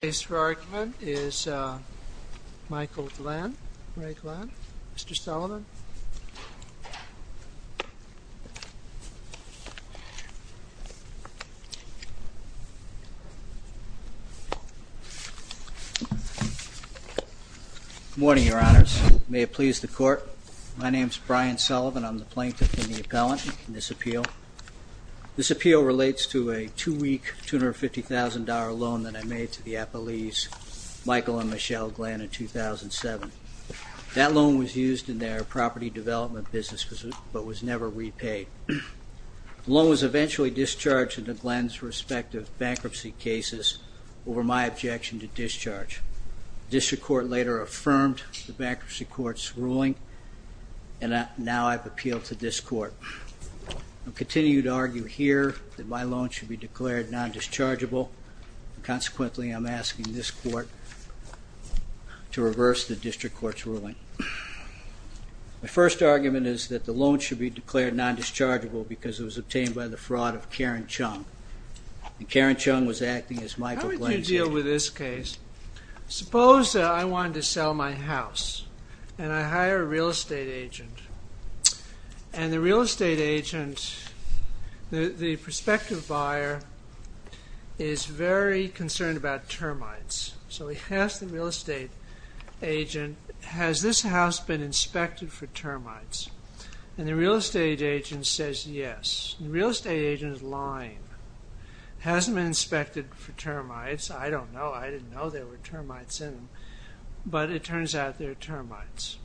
The case for argument is Michael R. Glenn v. Michael R. Glenn, Jr. Good morning, Your Honors. May it please the Court, my name is Brian Sullivan. I'm the plaintiff and the appellant in this appeal. This appeal relates to a two-week, $250,000 loan that I made to the appellees Michael and Michelle Glenn in 2007. That loan was used in their property development business but was never repaid. The loan was eventually discharged into Glenn's respective bankruptcy cases over my objection to discharge. The district court later affirmed the bankruptcy court's ruling and now I've appealed to this court. I'll continue to argue here that my loan should be declared non-dischargeable. Consequently, I'm asking this court to reverse the district court's ruling. My first argument is that the loan should be declared non-dischargeable because it was obtained by the fraud of Karen Chung. Karen Chung was acting as Michael Glenn's lawyer. How would you deal with this case? Suppose I wanted to sell my house and I hire a real estate agent. And the real estate agent, the prospective buyer, is very concerned about termites. So he asks the real estate agent, has this house been inspected for termites? And the real estate agent says yes. The real estate agent is lying. It hasn't been inspected for termites. I don't know. I didn't know there were termites in it. But it turns out there are termites.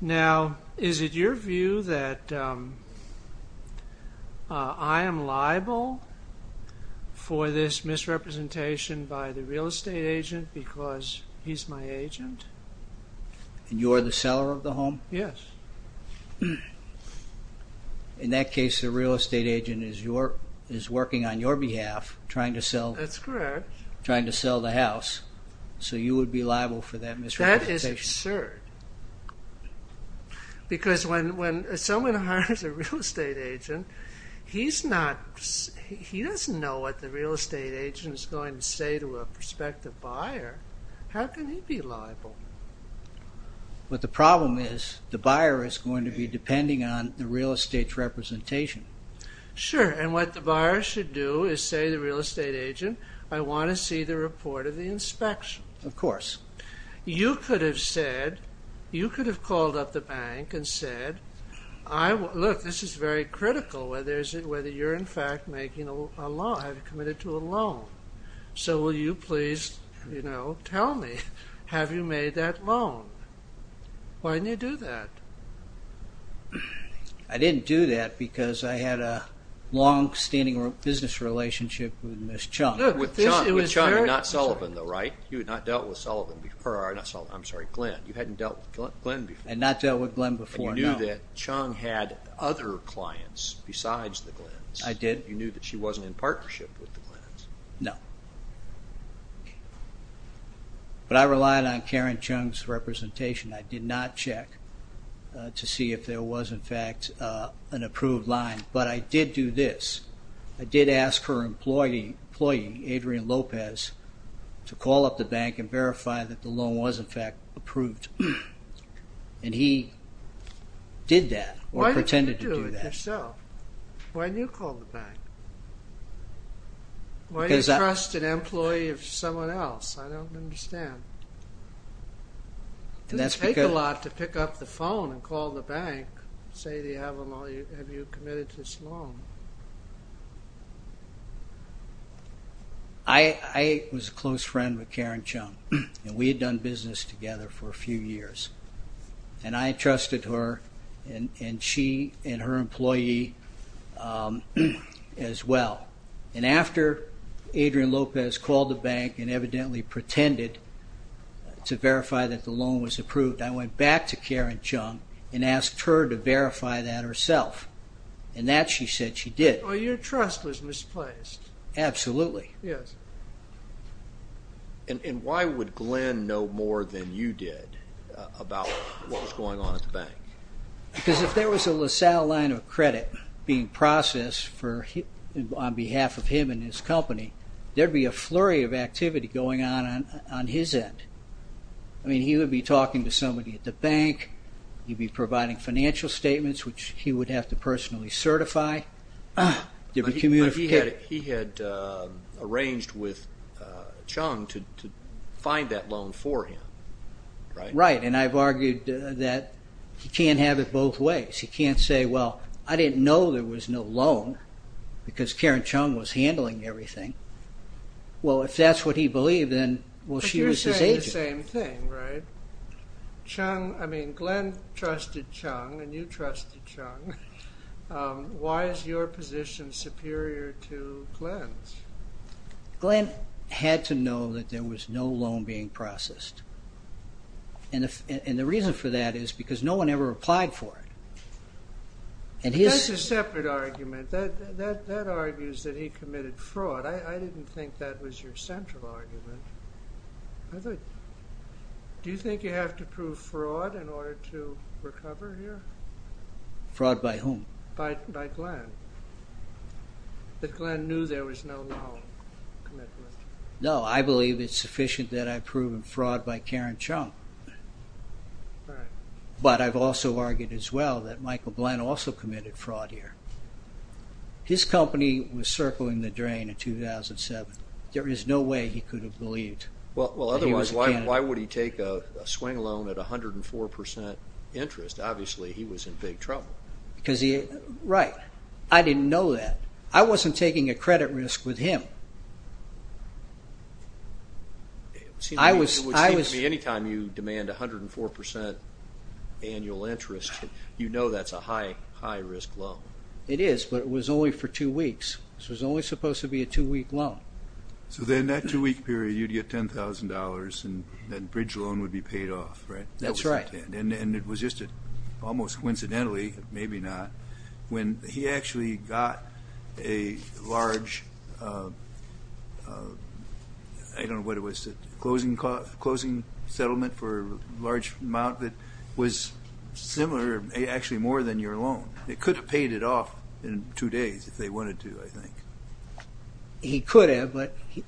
Now, is it your view that I am liable for this misrepresentation by the real estate agent because he's my agent? And you're the seller of the home? Yes. In that case, the real estate agent is working on your behalf, trying to sell the house, so you would be liable for that misrepresentation? That is absurd. Because when someone hires a real estate agent, he doesn't know what the real estate agent is going to say to a prospective buyer. How can he be liable? But the problem is, the buyer is going to be depending on the real estate's representation. Sure. And what the buyer should do is say to the real estate agent, I want to see the report of the inspection. Of course. You could have said, you could have called up the bank and said, look, this is very critical, whether you're in fact making a loan, committed to a loan. So will you please, you know, tell me, have you made that loan? Why didn't you do that? I didn't do that because I had a long-standing business relationship with Ms. Chung. With Chung and not Sullivan, though, right? You had not dealt with Sullivan before, or not Sullivan, I'm sorry, Glenn. You hadn't dealt with Glenn before. I had not dealt with Glenn before, no. But you knew that Chung had other clients besides the Glenns. I did. You knew that she wasn't in partnership with the Glenns. No. But I relied on Karen Chung's representation. I did not check to see if there was in fact an approved line. But I did do this. I did ask her employee, Adrian Lopez, to call up the bank and verify that the loan was in fact approved. And he did that, or pretended to do that. Why didn't you do it yourself? Why didn't you call the bank? Why do you trust an employee of someone else? I don't understand. It doesn't take a lot to pick up the phone and call the bank and say, have you committed to this loan? I was a close friend with Karen Chung, and we had done business together for a few years. And I trusted her and she and her employee as well. And after Adrian Lopez called the bank and evidently pretended to verify that the loan was approved, I went back to Karen Chung and asked her to verify that herself. And that she said she did. Well, your trust was misplaced. Absolutely. Yes. And why would Glenn know more than you did about what was going on at the bank? Because if there was a LaSalle line of credit being processed on behalf of him and his company, there would be a flurry of activity going on on his end. I mean, he would be talking to somebody at the bank. He would be providing financial statements, which he would have to personally certify. But he had arranged with Chung to find that loan for him, right? Right. And I've argued that he can't have it both ways. He can't say, well, I didn't know there was no loan because Karen Chung was handling everything. Well, if that's what he believed, then, well, she was his agent. But you're saying the same thing, right? I mean, Glenn trusted Chung and you trusted Chung. Why is your position superior to Glenn's? Glenn had to know that there was no loan being processed. And the reason for that is because no one ever applied for it. That's a separate argument. That argues that he committed fraud. I didn't think that was your central argument. I thought, do you think you have to prove fraud in order to recover here? Fraud by whom? By Glenn. That Glenn knew there was no loan commitment. No, I believe it's sufficient that I've proven fraud by Karen Chung. Right. But I've also argued as well that Michael Glenn also committed fraud here. His company was circling the drain in 2007. There is no way he could have believed. Well, otherwise, why would he take a swing loan at 104% interest? Obviously, he was in big trouble. Right. I didn't know that. I wasn't taking a credit risk with him. It would seem to me anytime you demand 104% annual interest, you know that's a high-risk loan. It is, but it was only for two weeks. It was only supposed to be a two-week loan. So then that two-week period, you'd get $10,000, and that bridge loan would be paid off, right? That's right. And it was just almost coincidentally, maybe not, when he actually got a large, I don't know what it was, closing settlement for a large amount that was similar, actually more than your loan. It could have paid it off in two days if they wanted to, I think. He could have, but he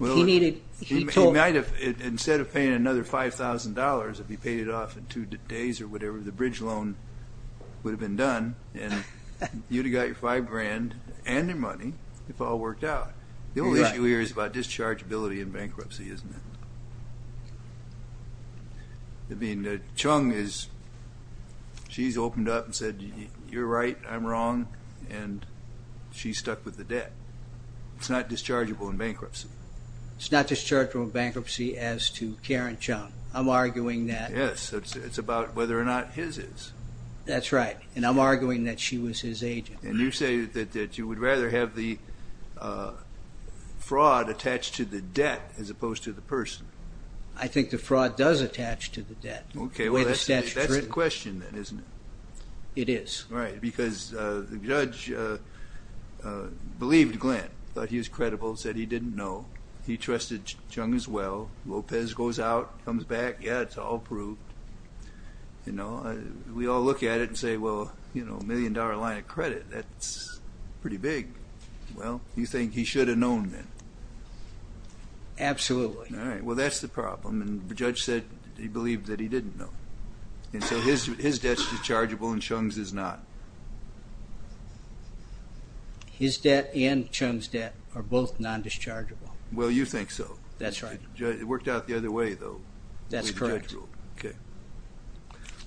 needed... He might have, instead of paying another $5,000, if he paid it off in two days or whatever, the bridge loan would have been done, and you'd have got your five grand and your money if it all worked out. The only issue here is about dischargeability and bankruptcy, isn't it? I mean, Chung, she's opened up and said, you're right, I'm wrong, and she's stuck with the debt. It's not dischargeable in bankruptcy. It's not dischargeable in bankruptcy as to Karen Chung. I'm arguing that... Yes, it's about whether or not his is. That's right, and I'm arguing that she was his agent. And you say that you would rather have the fraud attached to the debt as opposed to the person. I think the fraud does attach to the debt. Okay, well, that's the question then, isn't it? It is. Right, because the judge believed Glenn, thought he was credible, said he didn't know. He trusted Chung as well. Lopez goes out, comes back, yeah, it's all proved. We all look at it and say, well, a million-dollar line of credit, that's pretty big. Well, you think he should have known then? Absolutely. All right, well, that's the problem, and the judge said he believed that he didn't know. And so his debt's dischargeable and Chung's is not. His debt and Chung's debt are both non-dischargeable. Well, you think so. That's right. It worked out the other way, though, the way the judge ruled. That's correct. Okay.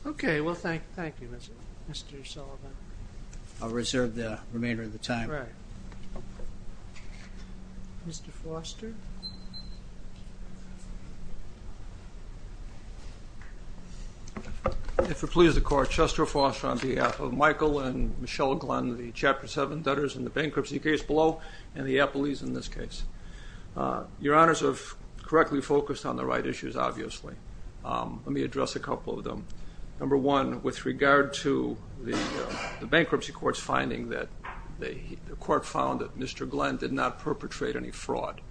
Okay, well, thank you, Mr. Sullivan. I'll reserve the remainder of the time. Right. Mr. Foster? If it pleases the Court, Chester Foster on behalf of Michael and Michelle Glenn, the Chapter 7 debtors in the bankruptcy case below and the appellees in this case. Your Honors have correctly focused on the right issues, obviously. Let me address a couple of them. Number one, with regard to the bankruptcy court's finding that the court found that Mr. Glenn did not perpetrate any fraud.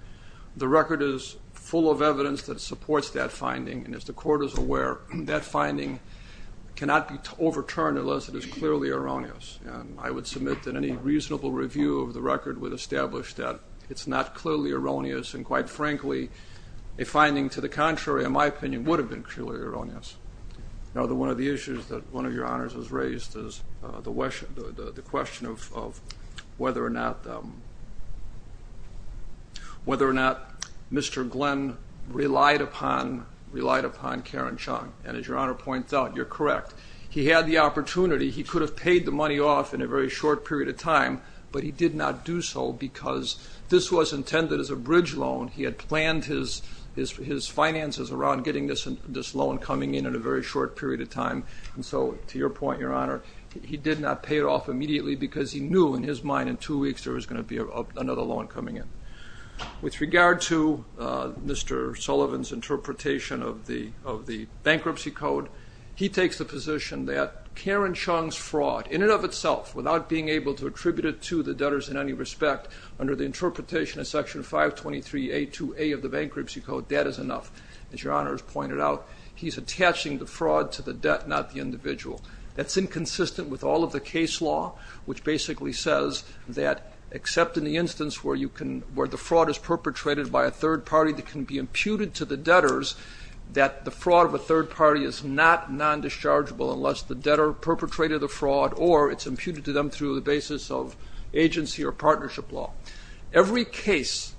The record is full of evidence that supports that finding, and as the Court is aware, that finding cannot be overturned unless it is clearly erroneous. And I would submit that any reasonable review of the record would establish that it's not clearly erroneous, and, quite frankly, a finding to the contrary, in my opinion, would have been clearly erroneous. Another one of the issues that one of your Honors has raised is the question of whether or not Mr. Glenn relied upon Karen Chung, and as your Honor points out, you're correct. He had the opportunity. He could have paid the money off in a very short period of time, but he did not do so because this was intended as a bridge loan. He had planned his finances around getting this loan coming in in a very short period of time, and so, to your point, your Honor, he did not pay it off immediately because he knew in his mind in two weeks there was going to be another loan coming in. With regard to Mr. Sullivan's interpretation of the bankruptcy code, he takes the position that Karen Chung's fraud, in and of itself, without being able to attribute it to the debtors in any respect, under the interpretation of Section 523A2A of the bankruptcy code, debt is enough. As your Honor has pointed out, he's attaching the fraud to the debt, not the individual. That's inconsistent with all of the case law, which basically says that, except in the instance where the fraud is perpetrated by a third party that can be imputed to the debtors, that the fraud of a third party is not non-dischargeable unless the debtor perpetrated the fraud or it's imputed to them through the basis of agency or partnership law. Every case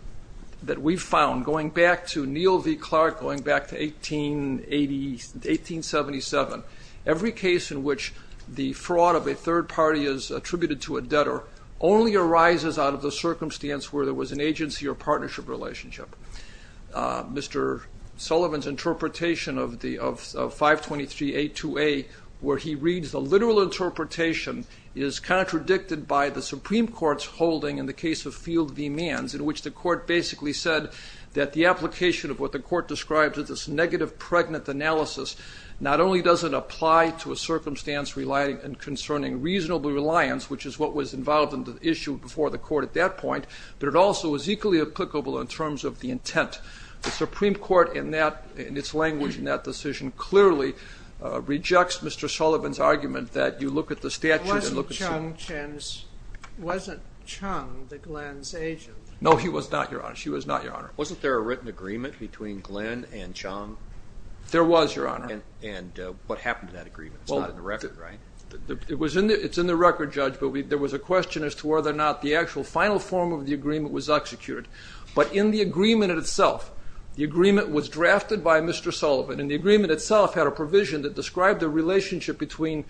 that we've found, going back to Neal v. Clark, going back to 1877, every case in which the fraud of a third party is attributed to a debtor only arises out of the circumstance where there was an agency or partnership relationship. Mr. Sullivan's interpretation of 523A2A, where he reads the literal interpretation, is contradicted by the Supreme Court's holding in the case of Field v. Manns, in which the court basically said that the application of what the court described as this negative pregnant analysis not only doesn't apply to a circumstance concerning reasonable reliance, which is what was involved in the issue before the court at that point, but it also is equally applicable in terms of the intent. The Supreme Court, in its language in that decision, clearly rejects Mr. Sullivan's argument that you look at the statute and look at... Wasn't Chung the Glenn's agent? No, he was not, Your Honor. She was not, Your Honor. Wasn't there a written agreement between Glenn and Chung? There was, Your Honor. And what happened to that agreement? It's not in the record, right? It's in the record, Judge, but there was a question as to whether or not the actual final form of the agreement was executed. But in the agreement itself, the agreement was drafted by Mr. Sullivan, and the agreement itself had a provision that described the relationship between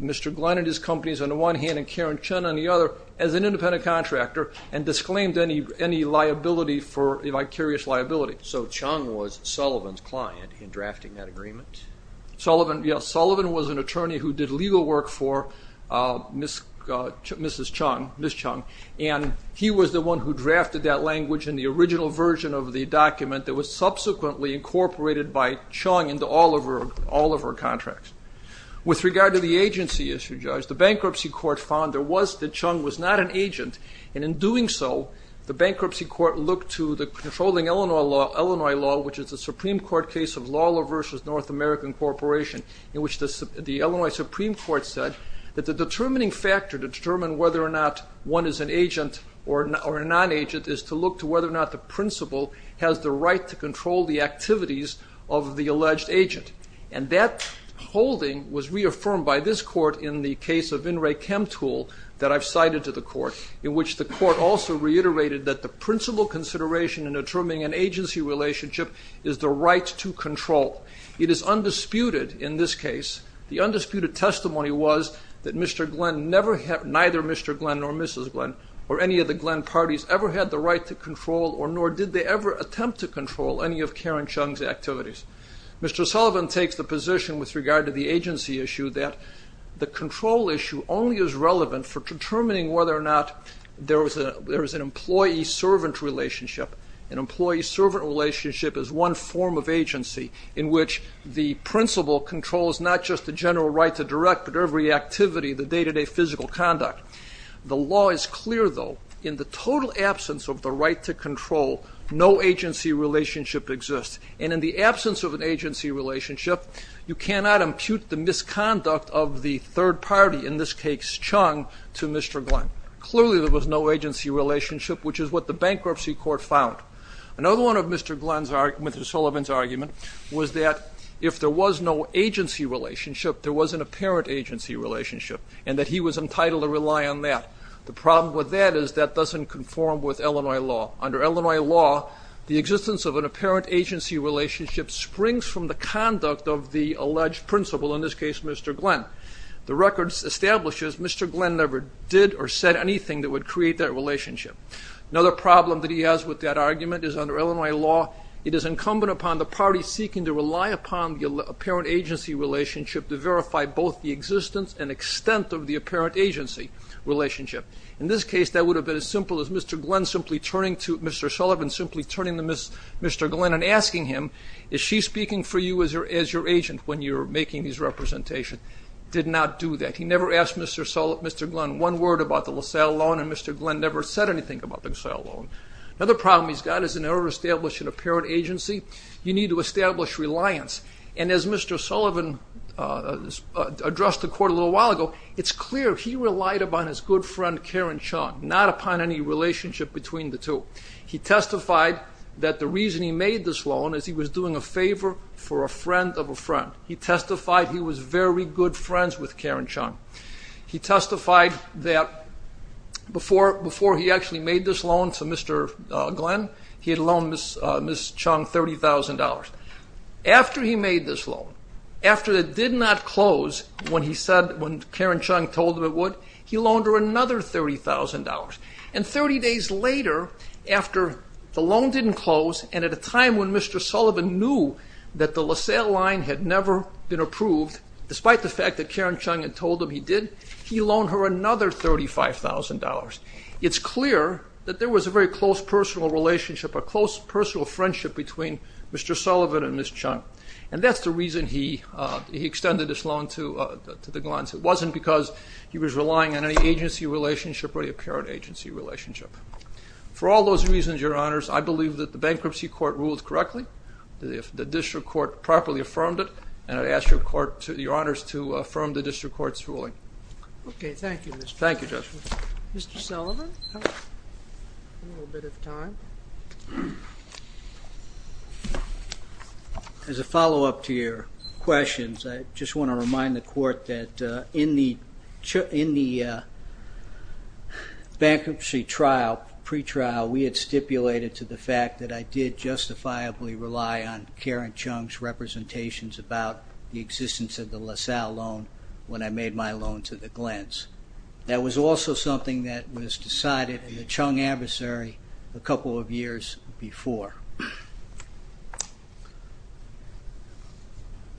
Mr. Glenn and his companies on the one hand and Karen Chung on the other as an independent contractor and disclaimed any liability for vicarious liability. So Chung was Sullivan's client in drafting that agreement? Sullivan, yes. Sullivan was an attorney who did legal work for Mrs. Chung. And he was the one who drafted that language in the original version of the document that was subsequently incorporated by Chung into all of her contracts. With regard to the agency issue, Judge, the bankruptcy court found that Chung was not an agent, and in doing so, the bankruptcy court looked to the controlling Illinois law, which is a Supreme Court case of Lawler v. North American Corporation, in which the Illinois Supreme Court said that the determining factor to determine whether or not one is an agent or a non-agent is to look to whether or not the principal has the right to control the activities of the alleged agent. And that holding was reaffirmed by this court in the case of In re chem tool that I've cited to the court, in which the court also reiterated that the principal consideration in determining an agency relationship is the right to control. It is undisputed in this case, the undisputed testimony was that Mr. Glenn and neither Mr. Glenn nor Mrs. Glenn or any of the Glenn parties ever had the right to control or nor did they ever attempt to control any of Karen Chung's activities. Mr. Sullivan takes the position with regard to the agency issue that the control issue only is relevant for determining whether or not there is an employee-servant relationship. An employee-servant relationship is one form of agency in which the principal controls not just the general right to direct, but every activity, the day-to-day physical conduct. The law is clear, though, in the total absence of the right to control, no agency relationship exists. And in the absence of an agency relationship, you cannot impute the misconduct of the third party, in this case, Chung, to Mr. Glenn. Clearly there was no agency relationship, which is what the bankruptcy court found. Another one of Mr. Sullivan's argument was that if there was no agency relationship, there was an apparent agency relationship and that he was entitled to rely on that. The problem with that is that doesn't conform with Illinois law. Under Illinois law, the existence of an apparent agency relationship springs from the conduct of the alleged principal, in this case, Mr. Glenn. The record establishes Mr. Glenn never did or said anything that would create that relationship. Another problem that he has with that argument is under Illinois law, it is incumbent upon the party seeking to rely upon the apparent agency relationship to verify both the existence and extent of the apparent agency relationship. In this case, that would have been as simple as Mr. Glenn simply turning to Mr. Sullivan, simply turning to Mr. Glenn and asking him, is she speaking for you as your agent when you're making these representations? Did not do that. He never asked Mr. Glenn one word about the LaSalle loan and Mr. Glenn never said anything about the LaSalle loan. Another problem he's got is in order to establish an apparent agency, you need to establish reliance. And as Mr. Sullivan addressed the court a little while ago, it's clear he relied upon his good friend Karen Chung, not upon any relationship between the two. He testified that the reason he made this loan is he was doing a favor for a friend of a friend. He testified he was very good friends with Karen Chung. He testified that before he actually made this loan to Mr. Glenn, he had loaned Ms. Chung $30,000. After he made this loan, after it did not close when Karen Chung told him it would, he loaned her another $30,000. And 30 days later, after the loan didn't close and at a time when Mr. Sullivan knew that the LaSalle line had never been approved, despite the fact that Karen Chung had told him he did, he loaned her another $35,000. It's clear that there was a very close personal relationship, a close personal friendship between Mr. Sullivan and Ms. Chung. And that's the reason he extended this loan to the Glenns. It wasn't because he was relying on any agency relationship or any apparent agency relationship. For all those reasons, Your Honors, I believe that the bankruptcy court ruled correctly. The district court properly affirmed it, and I ask Your Honors to affirm the district court's ruling. Okay, thank you, Mr. Judge. Thank you, Judge. Mr. Sullivan, you have a little bit of time. As a follow-up to your questions, I just want to remind the court that in the bankruptcy trial, pretrial, we had stipulated to the fact that I did justifiably rely on Karen Chung's representations about the existence of the LaSalle loan when I made my loan to the Glenns. That was also something that was decided in the Chung adversary a couple of years before.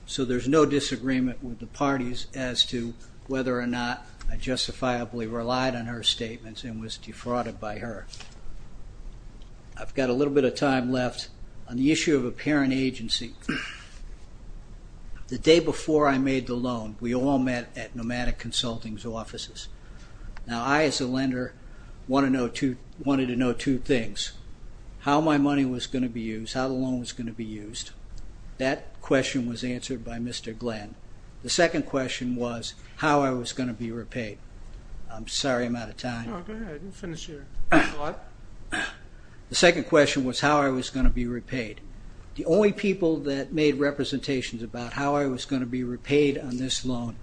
So there's no disagreement with the parties as to whether or not I justifiably relied on her statements and was defrauded by her. I've got a little bit of time left on the issue of apparent agency. The day before I made the loan, we all met at Nomadic Consulting's offices. Now, I, as a lender, wanted to know two things. First, how my money was going to be used, how the loan was going to be used. That question was answered by Mr. Glenn. The second question was how I was going to be repaid. I'm sorry I'm out of time. No, go ahead. You finish your thought. The second question was how I was going to be repaid. The only people that made representations about how I was going to be repaid on this loan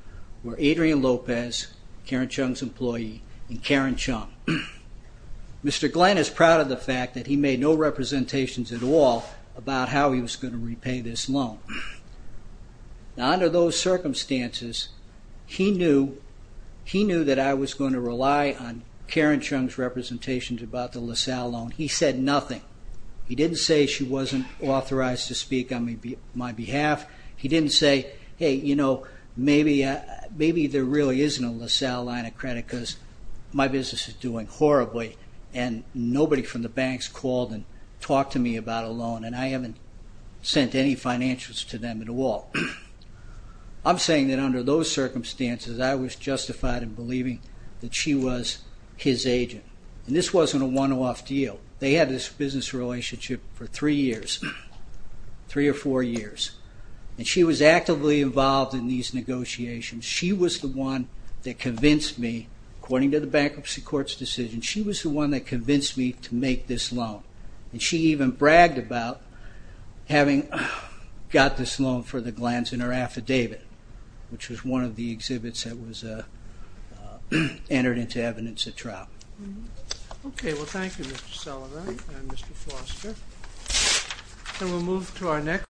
were Adrian Lopez, Karen Chung's employee, and Karen Chung. Mr. Glenn is proud of the fact that he made no representations at all about how he was going to repay this loan. Under those circumstances, he knew that I was going to rely on Karen Chung's representations about the LaSalle loan. He said nothing. He didn't say she wasn't authorized to speak on my behalf. He didn't say, hey, you know, maybe there really isn't a LaSalle line of credit because my business is doing horribly and nobody from the banks called and talked to me about a loan, and I haven't sent any financials to them at all. I'm saying that under those circumstances, I was justified in believing that she was his agent. And this wasn't a one-off deal. They had this business relationship for three years, three or four years, and she was actively involved in these negotiations. She was the one that convinced me, according to the bankruptcy court's decision, she was the one that convinced me to make this loan. And she even bragged about having got this loan for the glands in her affidavit, which was one of the exhibits that was entered into evidence at trial. Okay, well, thank you, Mr. Sullivan and Mr. Foster.